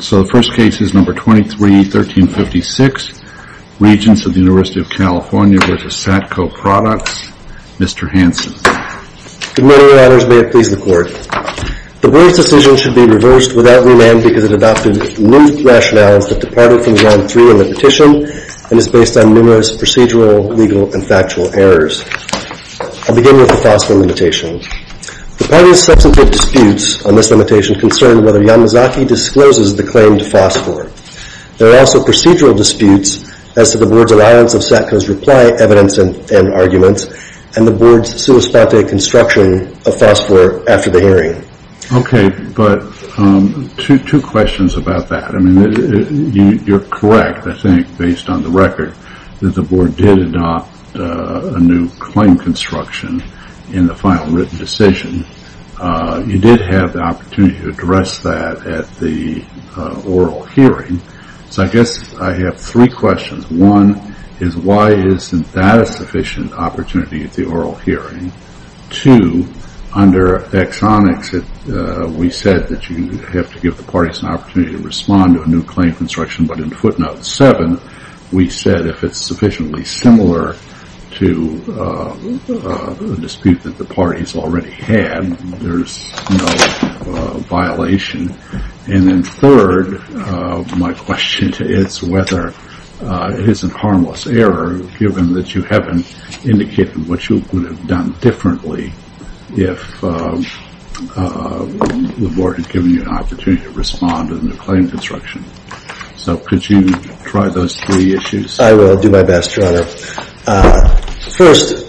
So the first case is number 23-1356, Regents of the University of California v. Satco Products. Mr. Hanson. Good morning, Your Honors. May it please the Court. The board's decision should be reversed without remand because it adopted new rationales that departed from round three in the petition and is based on numerous procedural, legal, and factual errors. I'll begin with the Foster Limitation. The party's substantive disputes on this limitation concern whether Yanazaki discloses the claims to FOSFOR. There are also procedural disputes as to the board's alliance of Satco's reply evidence and arguments, and the board's sui spate construction of FOSFOR after the hearing. Okay, but two questions about that. You're correct, I think, based on the record, that the board did adopt a new claim construction in the final written decision. You did have the opportunity to address that at the oral hearing, so I guess I have three questions. One is why isn't that a sufficient opportunity at the oral hearing? Two, under exonics, we said that you have to give the parties an opportunity to respond to a new claim construction, but in footnote seven, we said if it's sufficiently similar to a dispute that the parties already had, there's no violation. And then third, my question is whether it is a harmless error, given that you haven't indicated what you would have done differently if the board had given you an opportunity to respond to the new claim construction. So could you try those three issues? I will do my best, Your Honor. First,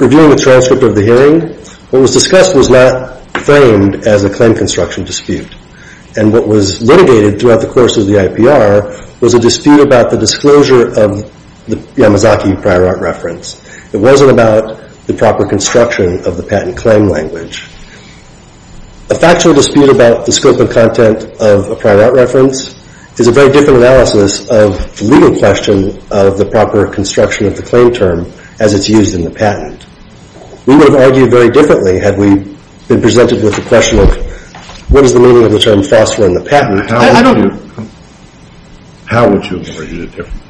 reviewing the transcript of the hearing, what was discussed was not framed as a claim construction dispute, and what was litigated throughout the course of the IPR was a dispute about the disclosure of the Yamazaki prior art reference. It wasn't about the proper construction of the patent claim language. A factual dispute about the scope and content of a prior art reference is a very different analysis of the legal question of the proper construction of the claim term as it's used in the patent. We would have argued very differently had we been presented with the question of what is the meaning of the term phosphor in the patent. How would you have argued it differently?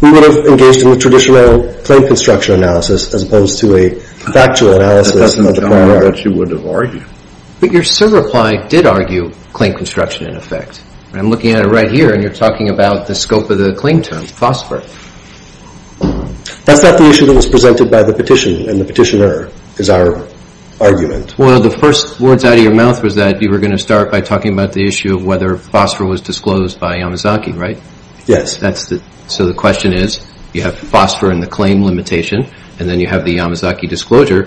We would have engaged in the traditional claim construction analysis as opposed to a factual analysis of the prior art. That doesn't tell me what you would have argued. But your server reply did argue claim construction in effect. I'm looking at it right here, and you're talking about the scope of the claim term, phosphor. That's not the issue that was presented by the petition and the petitioner is our argument. Well, the first words out of your mouth was that you were going to start by talking about the issue of whether phosphor was disclosed by Yamazaki, right? Yes. So the question is, you have phosphor in the claim limitation, and then you have the Yamazaki disclosure,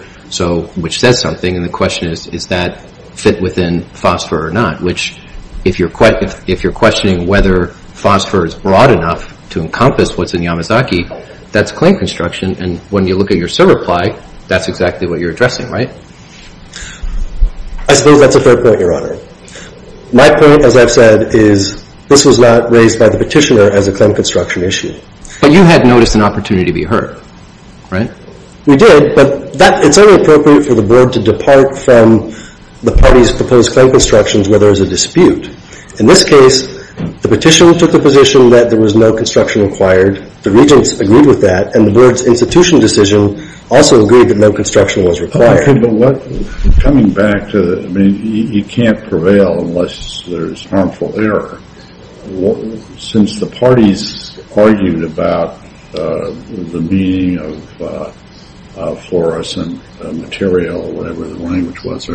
which says something, and the question is, is that fit within phosphor or not? Which, if you're questioning whether phosphor is broad enough to encompass what's in Yamazaki, that's claim construction, and when you look at your server reply, that's exactly what you're addressing, right? I suppose that's a fair point, Your Honor. My point, as I've said, is this was not raised by the petitioner as a claim construction issue. But you had noticed an opportunity to be heard, right? We did, but it's only appropriate for the board to depart from the party's proposed claim constructions, where there is a dispute. In this case, the petitioner took the position that there was no construction required. The regents agreed with that, and the board's institutional decision also agreed that no construction was required. But what – coming back to – I mean, you can't prevail unless there's harmful error. Since the parties argued about the meaning of fluorescent material, whatever the language was,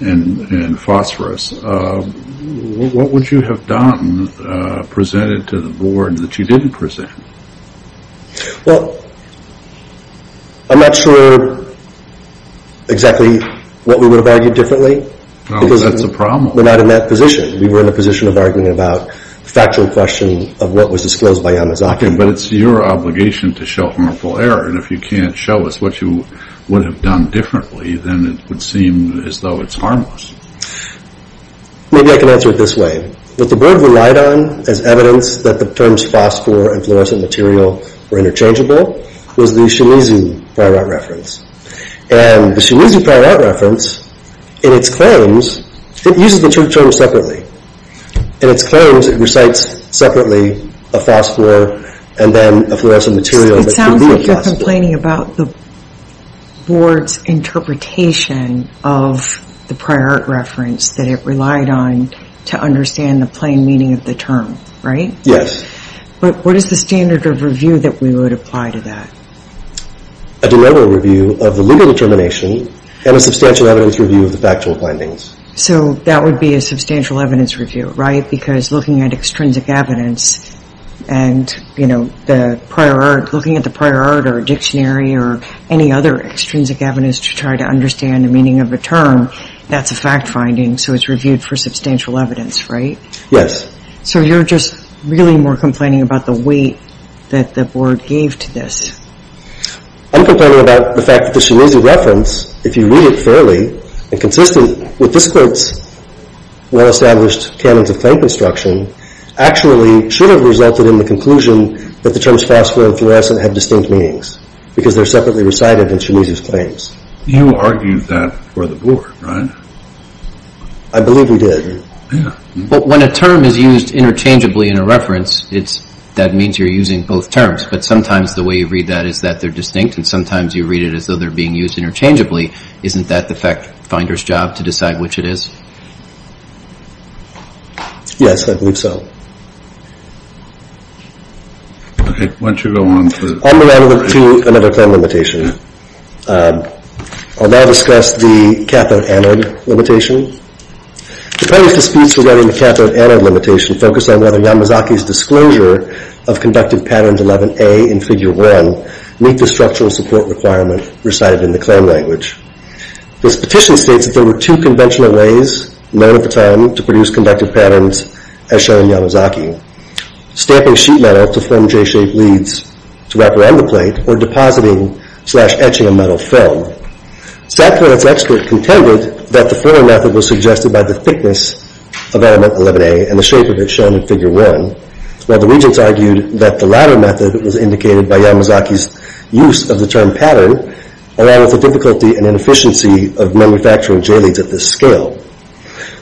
and phosphorus, what would you have done, presented to the board that you didn't present? Well, I'm not sure exactly what we would have argued differently. Oh, that's a problem. We're not in that position. We were in a position of arguing about the factual question of what was disclosed by Yamazaki. Okay, but it's your obligation to show harmful error. And if you can't show us what you would have done differently, then it would seem as though it's harmless. Maybe I can answer it this way. What the board relied on as evidence that the terms phosphor and fluorescent material were interchangeable was the Shimizu prior art reference. And the Shimizu prior art reference, in its claims, it uses the two terms separately. In its claims, it recites separately a phosphor and then a fluorescent material that could be a phosphor. It sounds like you're complaining about the board's interpretation of the prior art reference that it relied on to understand the plain meaning of the term, right? Yes. But what is the standard of review that we would apply to that? A de novo review of the legal determination and a substantial evidence review of the factual findings. So that would be a substantial evidence review, right? Because looking at extrinsic evidence and, you know, the prior art, looking at the prior art or a dictionary or any other extrinsic evidence to try to understand the meaning of a term, that's a fact finding, so it's reviewed for substantial evidence, right? Yes. So you're just really more complaining about the weight that the board gave to this. I'm complaining about the fact that the Shimizu reference, if you read it fairly and consistently, with this Court's well-established canons of claim construction, actually should have resulted in the conclusion that the terms phosphor and fluorescent had distinct meanings because they're separately recited in Shimizu's claims. You argued that for the board, right? I believe we did. Yeah. But when a term is used interchangeably in a reference, that means you're using both terms. But sometimes the way you read that is that they're distinct, and sometimes you read it as though they're being used interchangeably. Isn't that the fact finder's job to decide which it is? Yes, I believe so. All right. Why don't you go on? I'll move on to another claim limitation. I'll now discuss the cathode anode limitation. The plaintiff's speech regarding the cathode anode limitation focused on whether Yamazaki's disclosure of Conductive Patterns 11A in Figure 1 meet the structural support requirement recited in the claim language. This petition states that there were two conventional ways known at the time to produce conductive patterns as shown in Yamazaki. Stamping sheet metal to form J-shaped leads to wrap around the plate or depositing slash etching a metal film. Satco and its expert contended that the former method was suggested by the thickness of element 11A and the shape of it shown in Figure 1, while the regents argued that the latter method was indicated by Yamazaki's use of the term pattern along with the difficulty and inefficiency of manufacturing J-leads at this scale.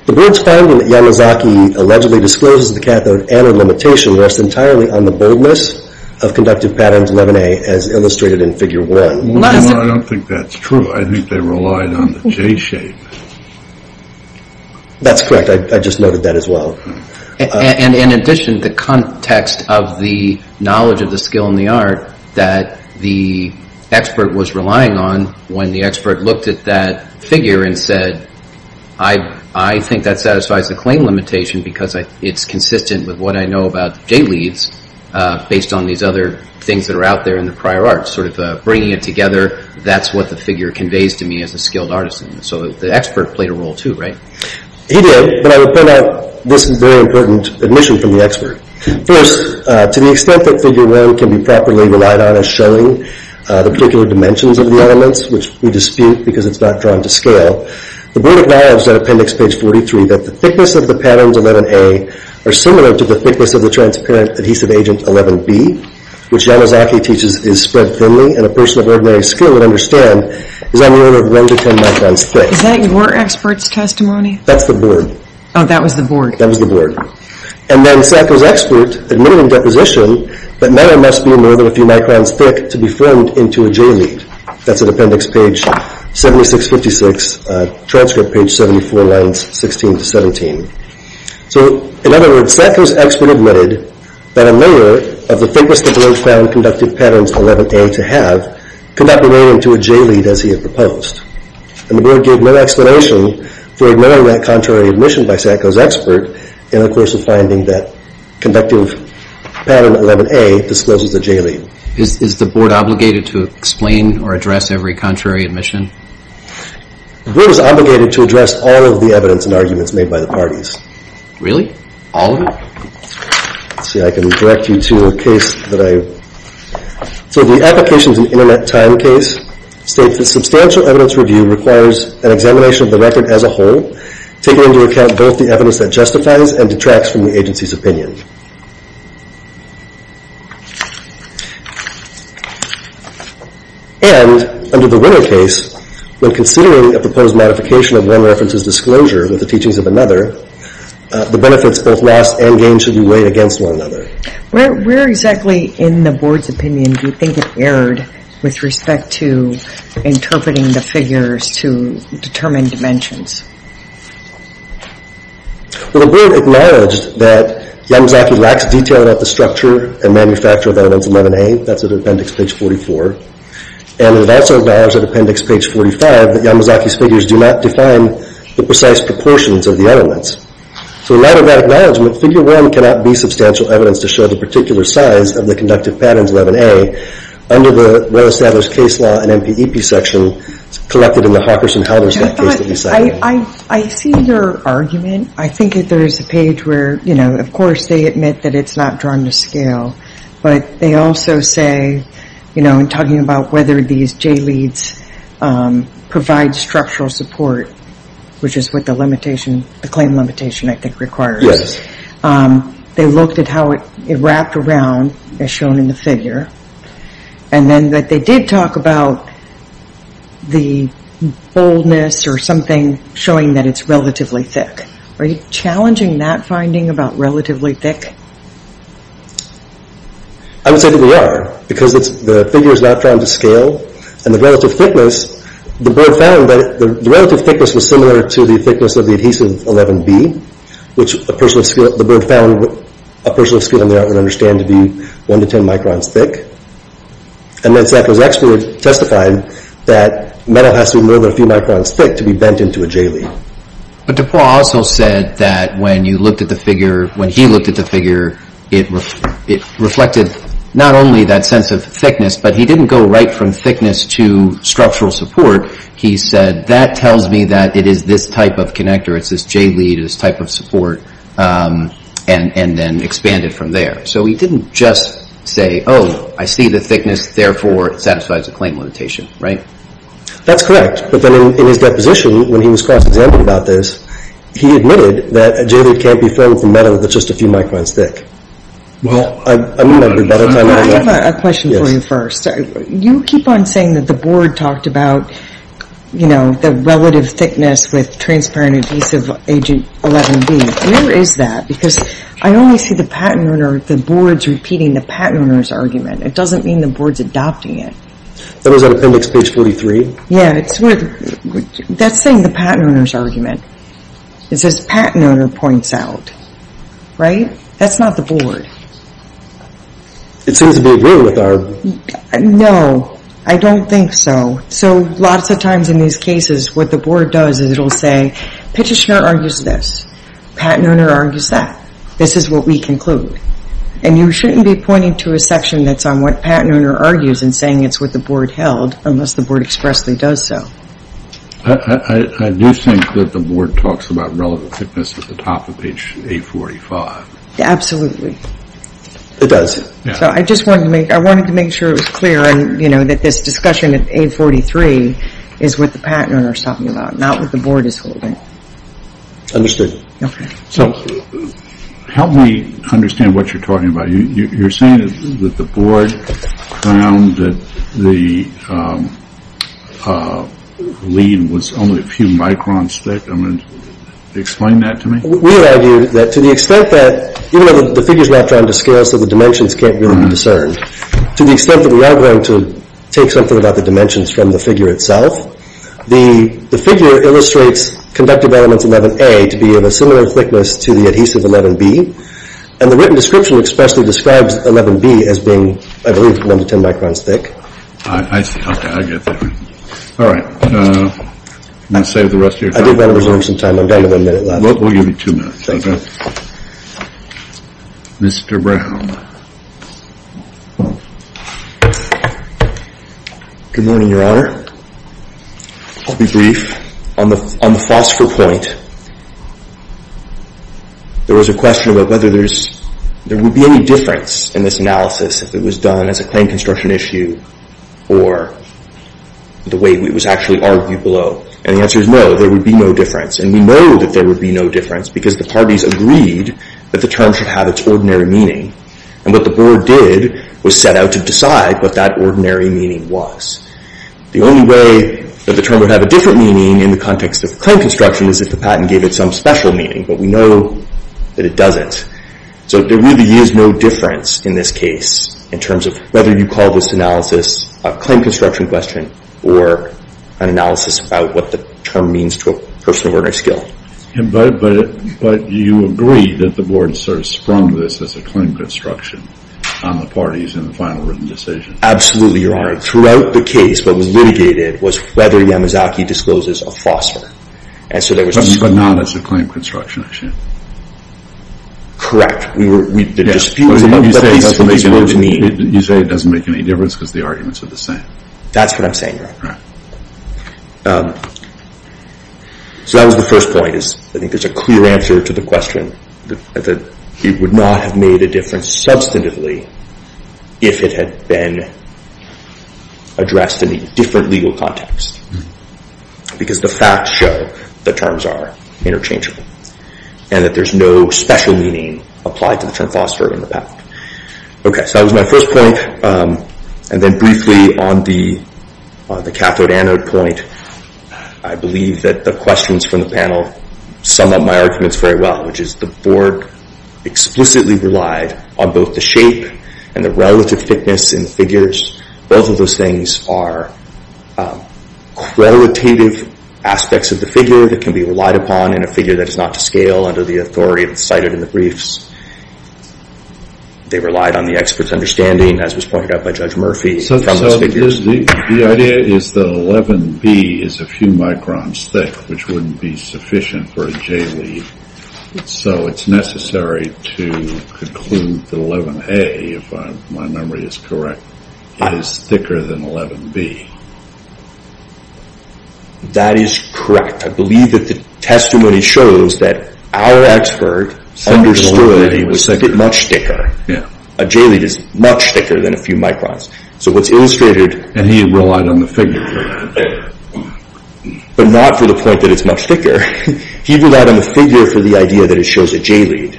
The board's finding that Yamazaki allegedly discloses the cathode anode limitation rests entirely on the boldness of Conductive Patterns 11A as illustrated in Figure 1. Well, I don't think that's true. I think they relied on the J-shape. That's correct. I just noted that as well. And in addition, the context of the knowledge of the skill in the art that the expert was relying on when the expert looked at that figure and said, I think that satisfies the claim limitation because it's consistent with what I know about J-leads based on these other things that are out there in the prior arts. Sort of bringing it together, that's what the figure conveys to me as a skilled artist. So the expert played a role too, right? He did, but I would point out this very important admission from the expert. First, to the extent that Figure 1 can be properly relied on as showing the particular dimensions of the elements, which we dispute because it's not drawn to scale, the board acknowledged at Appendix Page 43 that the thickness of the Patterns 11A are similar to the thickness of the transparent Adhesive Agent 11B, which Yamazaki teaches is spread thinly and a person of ordinary skill would understand is on the order of 1 to 10 microns thick. Is that your expert's testimony? That's the board. Oh, that was the board. That was the board. And then Sacco's expert admitted in deposition that matter must be more than a few microns thick to be formed into a J-lead. That's at Appendix Page 7656, Transcript Page 74, Lines 16 to 17. So, in other words, Sacco's expert admitted that a layer of the thickness the board found Conductive Patterns 11A to have could not be made into a J-lead as he had proposed. And the board gave no explanation for ignoring that contrary admission by Sacco's expert in the course of finding that Conductive Pattern 11A discloses a J-lead. Is the board obligated to explain or address every contrary admission? The board is obligated to address all of the evidence and arguments made by the parties. Really? All of it? Let's see, I can direct you to a case that I... So the Applications and Internet Time case states that substantial evidence review requires an examination of the record as a whole, taking into account both the evidence that justifies and detracts from the agency's opinion. And under the winner case, when considering a proposed modification of one reference's disclosure with the teachings of another, the benefits both lost and gained should be weighed against one another. Where exactly in the board's opinion do you think it erred with respect to interpreting the figures to determine dimensions? Well, the board acknowledged that Yamazaki lacks detail about the structure and manufacture of Elements 11A. That's at Appendix Page 44. And it also acknowledged at Appendix Page 45 that Yamazaki's figures do not define the precise proportions of the elements. So in light of that acknowledgement, Figure 1 cannot be substantial evidence to show the particular size of the Conductive Patterns 11A under the well-established case law and MPEP section collected in the Hawkers and Helders case that we cited. I see your argument. I think there is a page where, you know, of course they admit that it's not drawn to scale. But they also say, you know, in talking about whether these JLEADs provide structural support, which is what the limitation, the claim limitation, I think, requires. They looked at how it wrapped around, as shown in the figure. And then they did talk about the boldness or something showing that it's relatively thick. Are you challenging that finding about relatively thick? I would say that we are. Because the figure is not drawn to scale, and the relative thickness, the board found that the relative thickness was similar to the thickness of the Adhesive 11B, which the board found a person of skill in the art would understand to be 1 to 10 microns thick. And then Sackler's expert testified that metal has to be more than a few microns thick to be bent into a JLEAD. But DuPont also said that when you looked at the figure, when he looked at the figure, it reflected not only that sense of thickness, but he didn't go right from thickness to structural support. He said, that tells me that it is this type of connector. It's this JLEAD, this type of support, and then expanded from there. So he didn't just say, oh, I see the thickness. Therefore, it satisfies the claim limitation. Right? That's correct. But then in his deposition, when he was cross-examined about this, he admitted that a JLEAD can't be formed from metal that's just a few microns thick. Well, I have a question for you first. You keep on saying that the board talked about, you know, the relative thickness with transparent adhesive agent 11B. Where is that? Because I only see the patent owner, the board's repeating the patent owner's argument. It doesn't mean the board's adopting it. That was on appendix page 43. Yeah, that's saying the patent owner's argument. It says patent owner points out. Right? That's not the board. It seems a bit weird with our... No, I don't think so. So lots of times in these cases, what the board does is it'll say, Pitcher Schnur argues this. Patent owner argues that. This is what we conclude. And you shouldn't be pointing to a section that's on what patent owner argues and saying it's what the board held unless the board expressly does so. I do think that the board talks about relative thickness at the top of page 845. Absolutely. It does. So I just wanted to make sure it was clear, you know, that this discussion at 843 is what the patent owner's talking about, not what the board is holding. Understood. Okay. So help me understand what you're talking about. You're saying that the board found that the lead was only a few microns thick. I mean, explain that to me. We'll argue that to the extent that, even though the figure's not drawn to scale so the dimensions can't really be discerned, to the extent that we are going to take something about the dimensions from the figure itself, the figure illustrates conductive elements 11A to be of a similar thickness to the adhesive 11B. And the written description expressly describes 11B as being, I believe, 1 to 10 microns thick. I see. Okay. I get that. All right. I'm going to save the rest of your time. I did want to resume some time. I'm done with a minute left. We'll give you two minutes. Mr. Brown. Good morning, Your Honor. I'll be brief. On the phosphor point, there was a question about whether there would be any difference in this analysis if it was done as a claim construction issue or the way it was actually argued below. And the answer is no, there would be no difference. And we know that there would be no difference because the parties agreed that the term should have its ordinary meaning. And what the board did was set out to decide what that ordinary meaning was. The only way that the term would have a different meaning in the context of claim construction is if the patent gave it some special meaning, but we know that it doesn't. So there really is no difference in this case in terms of whether you call this analysis a claim construction question or an analysis about what the term means to a person of ordinary skill. But you agree that the board sort of sprung this as a claim construction on the parties in the final written decision. Absolutely, Your Honor. Throughout the case, what was litigated was whether Yamazaki discloses a phosphor. But not as a claim construction issue. Correct. You say it doesn't make any difference because the arguments are the same. That's what I'm saying, Your Honor. So that was the first point. I think there's a clear answer to the question that he would not have made a difference substantively if it had been addressed in a different legal context. Because the facts show the terms are interchangeable. And that there's no special meaning applied to the term phosphor in the patent. Okay, so that was my first point. And then briefly on the cathode anode point, I believe that the questions from the panel sum up my arguments very well, which is the board explicitly relied on both the shape and the relative thickness in figures. Both of those things are qualitative aspects of the figure that can be relied upon in a figure that is not to scale under the authority cited in the briefs. They relied on the expert's understanding, as was pointed out by Judge Murphy. So the idea is that 11B is a few microns thick, which wouldn't be sufficient for a J lead. So it's necessary to conclude that 11A, if my memory is correct, is thicker than 11B. That is correct. I believe that the testimony shows that our expert understood that it was much thicker. A J lead is much thicker than a few microns. So what's illustrated— And he relied on the figure. But not for the point that it's much thicker. He relied on the figure for the idea that it shows a J lead.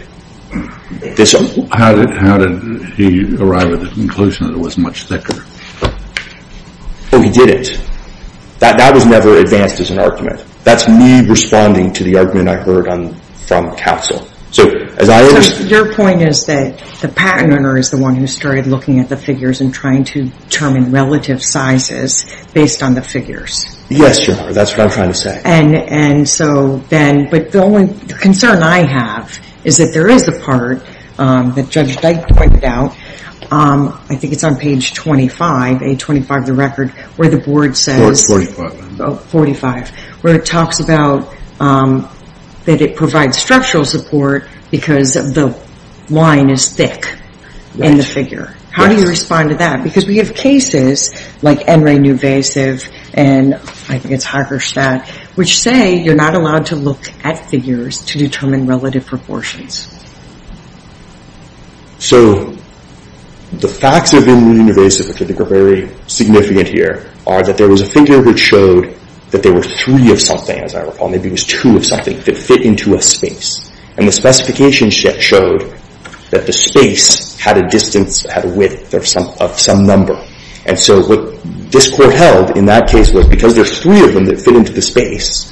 How did he arrive at the conclusion that it was much thicker? Oh, he did it. That was never advanced as an argument. That's me responding to the argument I heard from counsel. So as I understand— So your point is that the patent owner is the one who started looking at the figures and trying to determine relative sizes based on the figures. Yes, Your Honor. That's what I'm trying to say. And so then—but the only concern I have is that there is a part that Judge Dyke pointed out. I think it's on page 25, page 25 of the record, where the board says— Oh, 45. Where it talks about that it provides structural support because the line is thick in the figure. Yes. How do you respond to that? Because we have cases like NRA Newvasive and I think it's Hagerstadt, which say you're not allowed to look at figures to determine relative proportions. So the facts of NRA Newvasive, which I think are very significant here, are that there was a figure that showed that there were three of something, as I recall. Maybe it was two of something that fit into a space. And the specification showed that the space had a distance, had a width of some number. And so what this court held in that case was because there's three of them that fit into the space,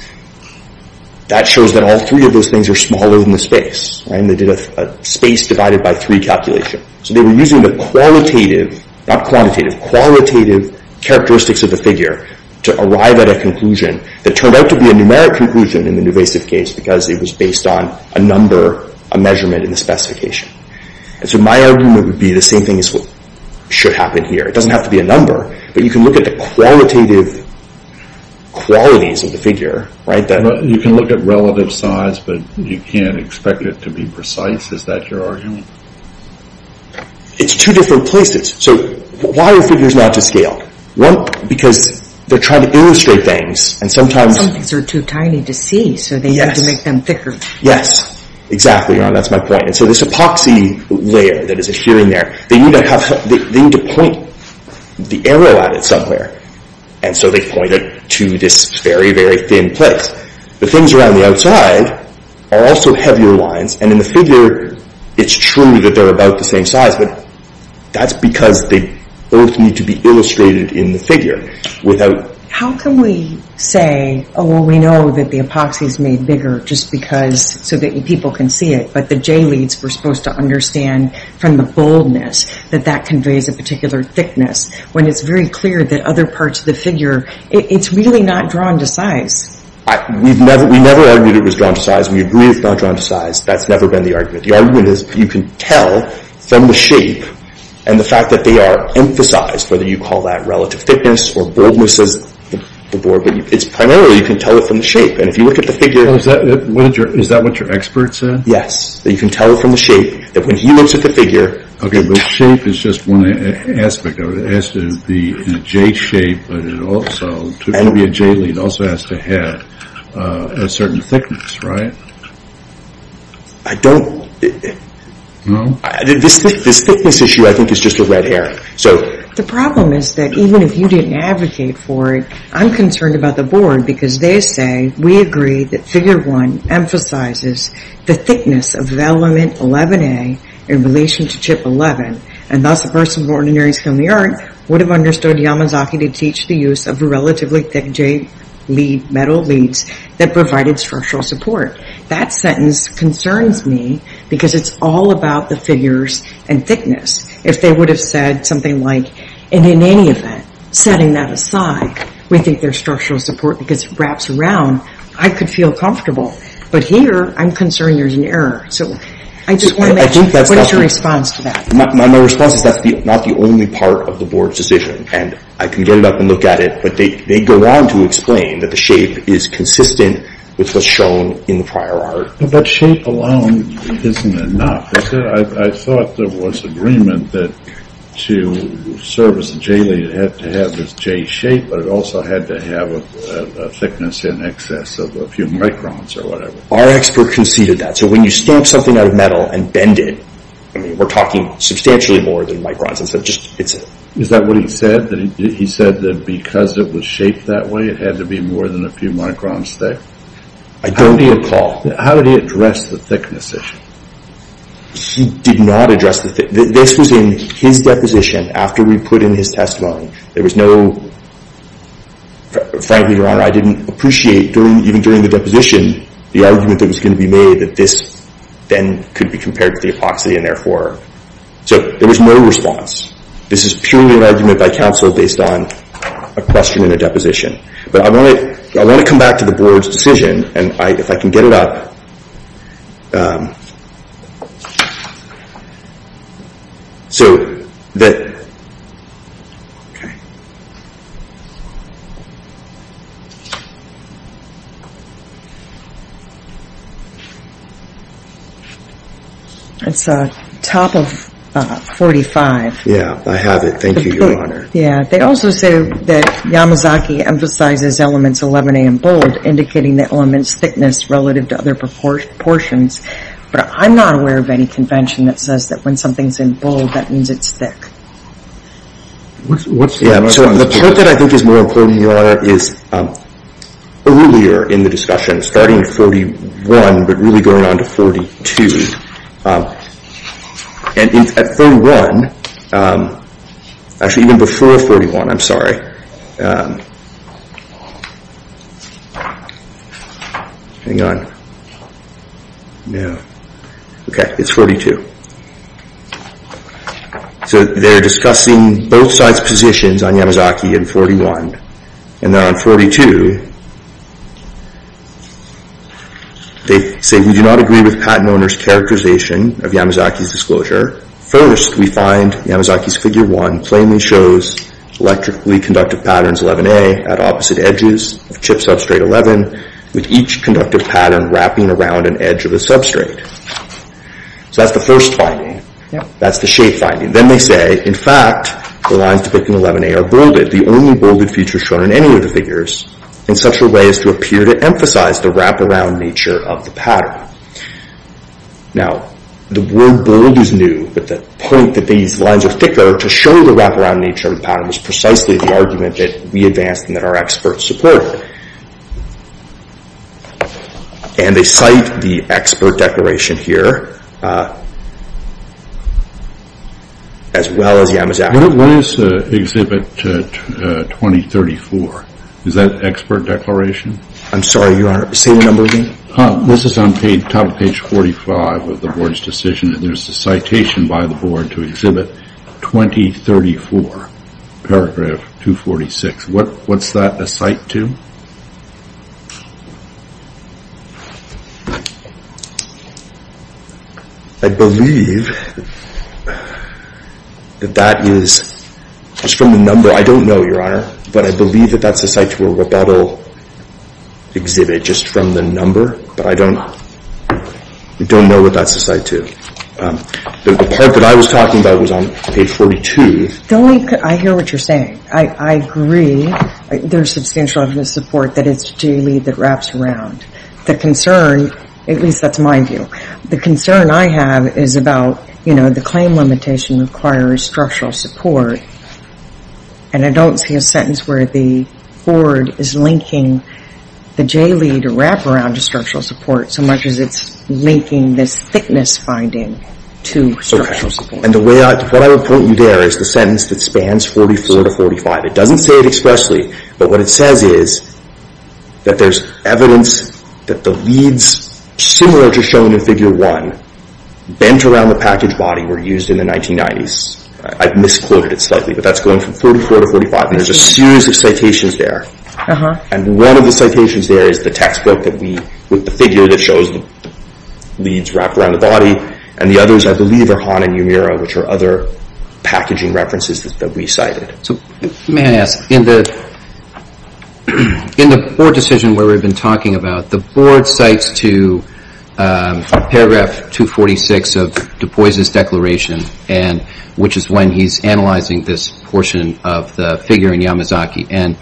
that shows that all three of those things are smaller than the space. And they did a space divided by three calculation. So they were using the qualitative, not quantitative, qualitative characteristics of the figure to arrive at a conclusion that turned out to be a numeric conclusion in the Newvasive case because it was based on a number, a measurement in the specification. And so my argument would be the same thing as what should happen here. It doesn't have to be a number, but you can look at the qualitative qualities of the figure. You can look at relative size, but you can't expect it to be precise. Is that your argument? It's two different places. So why are figures not to scale? One, because they're trying to illustrate things. Some things are too tiny to see, so they need to make them thicker. Yes, exactly. That's my point. And so this epoxy layer that is adhering there, they need to point the arrow at it somewhere. And so they point it to this very, very thin place. The things around the outside are also heavier lines. And in the figure, it's true that they're about the same size, but that's because they both need to be illustrated in the figure. How can we say, oh, well, we know that the epoxy is made bigger just so that people can see it, but the J-leads were supposed to understand from the boldness that that conveys a particular thickness when it's very clear that other parts of the figure, it's really not drawn to size? We never argued it was drawn to size. We agree it's not drawn to size. That's never been the argument. The argument is you can tell from the shape and the fact that they are emphasized, whether you call that relative thickness or boldness as the board, but primarily you can tell it from the shape. And if you look at the figure— Is that what your expert said? Yes, that you can tell it from the shape, that when he looks at the figure— Okay, but shape is just one aspect of it. It has to be a J-shape, but it also—to be a J-lead, it also has to have a certain thickness, right? I don't— No? This thickness issue, I think, is just a red hair. The problem is that even if you didn't advocate for it, I'm concerned about the board because they say, we agree that figure one emphasizes the thickness of element 11A in relation to chip 11, and thus a person of ordinary skill in the art would have understood Yamazaki to teach the use of relatively thick J-lead, metal leads that provided structural support. That sentence concerns me because it's all about the figures and thickness. If they would have said something like, and in any event, setting that aside, we think there's structural support because it wraps around, I could feel comfortable. But here, I'm concerned there's an error. So I just want to know, what is your response to that? My response is that's not the only part of the board's decision, and I can get it up and look at it, but they go on to explain that the shape is consistent with what's shown in the prior art. But shape alone isn't enough, is it? I thought there was agreement that to service a J-lead, it had to have this J shape, but it also had to have a thickness in excess of a few microns or whatever. Our expert conceded that. So when you stamp something out of metal and bend it, we're talking substantially more than microns. Is that what he said? He said that because it was shaped that way, it had to be more than a few microns thick? I don't recall. How did he address the thickness issue? He did not address the thickness. This was in his deposition after we put in his testimony. There was no, frankly, Your Honor, I didn't appreciate, even during the deposition, the argument that was going to be made that this then could be compared to the epoxy and therefore. So there was no response. This is purely an argument by counsel based on a question in a deposition. But I want to come back to the board's decision, and if I can get it up. It's top of 45. Yeah, I have it. Thank you, Your Honor. Yeah, they also say that Yamazaki emphasizes elements 11A and bold, indicating the element's thickness relative to other proportions. But I'm not aware of any convention that says that when something's in bold, that means it's thick. So the part that I think is more important, Your Honor, is earlier in the discussion, starting at 31, but really going on to 42. And at 31, actually even before 41, I'm sorry. Hang on. No. Okay, it's 42. So they're discussing both sides' positions on Yamazaki and 41. And then on 42, they say, we do not agree with patent owner's characterization of Yamazaki's disclosure. First, we find Yamazaki's Figure 1 plainly shows electrically conductive patterns 11A at opposite edges of chip substrate 11, with each conductive pattern wrapping around an edge of the substrate. So that's the first finding. That's the shape finding. Then they say, in fact, the lines depicting 11A are bolded. They say that the only bolded feature shown in any of the figures in such a way as to appear to emphasize the wraparound nature of the pattern. Now, the word bold is new, but the point that these lines are thicker to show the wraparound nature of the pattern was precisely the argument that we advanced and that our experts supported. And they cite the expert declaration here, as well as Yamazaki. What is Exhibit 2034? Is that expert declaration? I'm sorry. Say your number again. This is on top of page 45 of the Board's decision, and there's a citation by the Board to Exhibit 2034, paragraph 246. What's that a cite to? I believe that that is just from the number. I don't know, Your Honor, but I believe that that's a cite to a rebuttal exhibit just from the number, but I don't know what that's a cite to. The part that I was talking about was on page 42. I hear what you're saying. I agree. I think there's substantial evidence of support that it's JLEAD that wraps around. The concern, at least that's my view, the concern I have is about, you know, the claim limitation requires structural support, and I don't see a sentence where the Board is linking the JLEAD wraparound to structural support so much as it's linking this thickness finding to structural support. And the way I would put you there is the sentence that spans 44 to 45. It doesn't say it expressly, but what it says is that there's evidence that the leads similar to shown in Figure 1 bent around the package body were used in the 1990s. I've misquoted it slightly, but that's going from 44 to 45, and there's a series of citations there, and one of the citations there is the textbook that we, with the figure that shows the leads wrapped around the body, and the others I believe are Hahn and Umira, which are other packaging references that we cited. So may I ask, in the Board decision where we've been talking about, the Board cites to Paragraph 246 of DuPois' declaration, which is when he's analyzing this portion of the figure in Yamazaki, and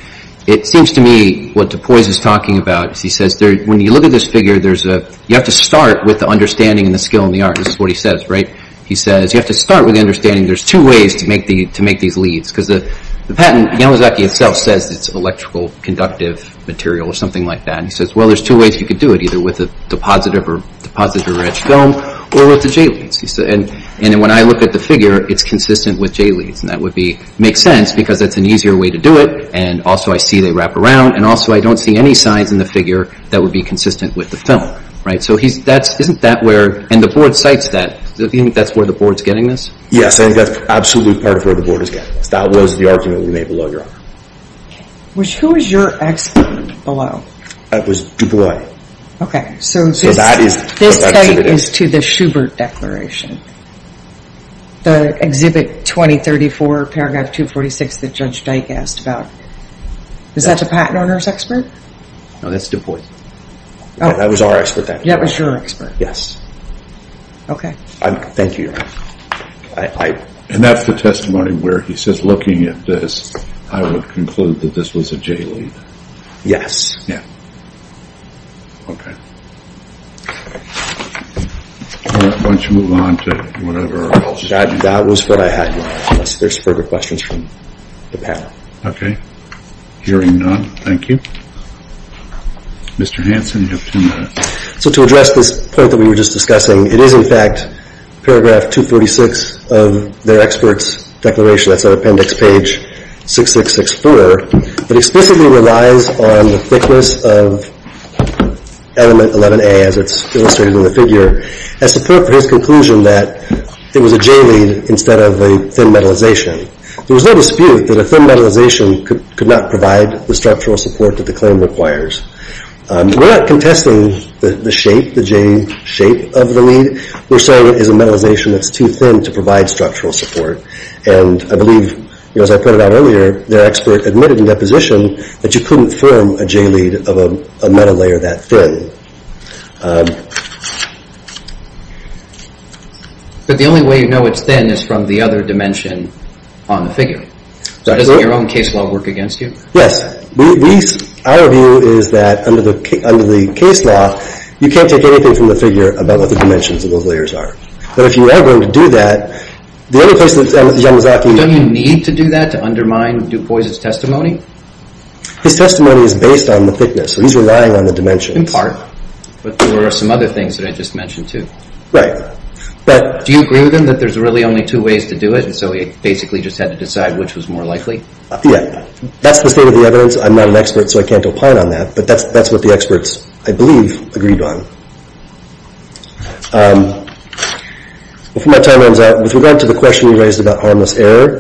it seems to me what DuPois is talking about is he says when you look at this figure, you have to start with the understanding and the skill and the art. This is what he says, right? He says you have to start with the understanding there's two ways to make these leads because the patent, Yamazaki itself says it's electrical conductive material or something like that. He says, well, there's two ways you could do it, either with a depositor-rich film or with the J-leads. And when I look at the figure, it's consistent with J-leads, and that would make sense because that's an easier way to do it, and also I see they wrap around, and also I don't see any signs in the figure that would be consistent with the film, right? So isn't that where, and the Board cites that, do you think that's where the Board's getting this? Yes, I think that's absolutely part of where the Board is getting this. That was the argument we made below your honor. Who was your expert below? It was DuPois. Okay, so this tape is to the Schubert Declaration, the Exhibit 2034, Paragraph 246 that Judge Dyke asked about. Is that the patent owner's expert? No, that's DuPois. That was our expert then. That was your expert? Yes. Okay. Thank you, Your Honor. And that's the testimony where he says, looking at this, I would conclude that this was a J-lead. Yes. Yeah. Okay. Why don't you move on to whatever else? That was what I had, unless there's further questions from the panel. Okay. Hearing none, thank you. Mr. Hanson, you have ten minutes. So to address this point that we were just discussing, it is, in fact, Paragraph 246 of their expert's declaration. That's on Appendix Page 6664. It explicitly relies on the thickness of Element 11A, as it's illustrated in the figure, as support for his conclusion that it was a J-lead instead of a thin metalization. There was no dispute that a thin metalization could not provide the structural support that the claim requires. We're not contesting the shape, the J-shape of the lead. We're saying it is a metalization that's too thin to provide structural support. And I believe, as I pointed out earlier, their expert admitted in deposition that you couldn't form a J-lead of a metal layer that thin. But the only way you know it's thin is from the other dimension on the figure. So doesn't your own case law work against you? Yes. Our view is that, under the case law, you can't take anything from the figure about what the dimensions of those layers are. But if you are going to do that, the only place that Yamazaki... Don't you need to do that to undermine Du Bois' testimony? His testimony is based on the thickness, so he's relying on the dimensions. In part. But there are some other things that I just mentioned, too. Right. But... Do you agree with him that there's really only two ways to do it, and so he basically just had to decide which was more likely? Yeah. That's the state of the evidence. I'm not an expert, so I can't opine on that. But that's what the experts, I believe, agreed on. Before my time runs out, with regard to the question you raised about harmless error,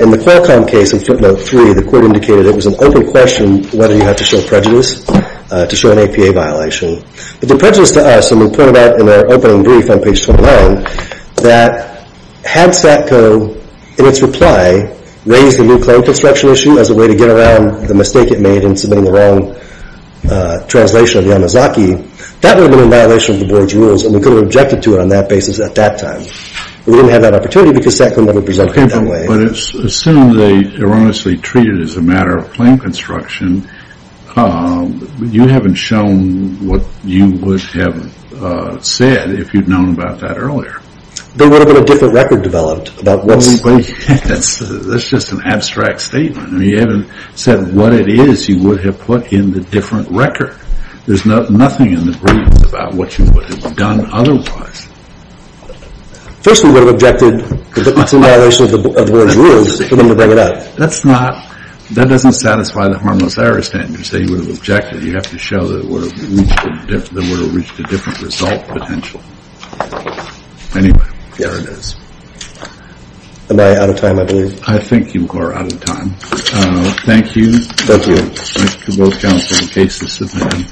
in the Qualcomm case in footnote 3, the court indicated it was an open question whether you had to show prejudice to show an APA violation. But the prejudice to us, and we pointed out in our opening brief on page 29, that had SATCO, in its reply, raised the new claim construction issue as a way to get around the mistake it made in submitting the wrong translation of Yamazaki, that would have been in violation of the board's rules, and we could have objected to it on that basis at that time. We didn't have that opportunity because SATCO never presented it that way. But as soon as they erroneously treat it as a matter of claim construction, you haven't shown what you would have said if you'd known about that earlier. They would have had a different record developed about what's... That's just an abstract statement. You haven't said what it is you would have put in the different record. There's nothing in the brief about what you would have done otherwise. First, we would have objected that it's in violation of the board's rules for them to bring it up. That doesn't satisfy the harmless error standard. You say you would have objected. You have to show that it would have reached a different result potential. Anyway, there it is. Am I out of time, I believe? I think you are out of time. Thank you. Thank you. Thanks to both counsel and cases.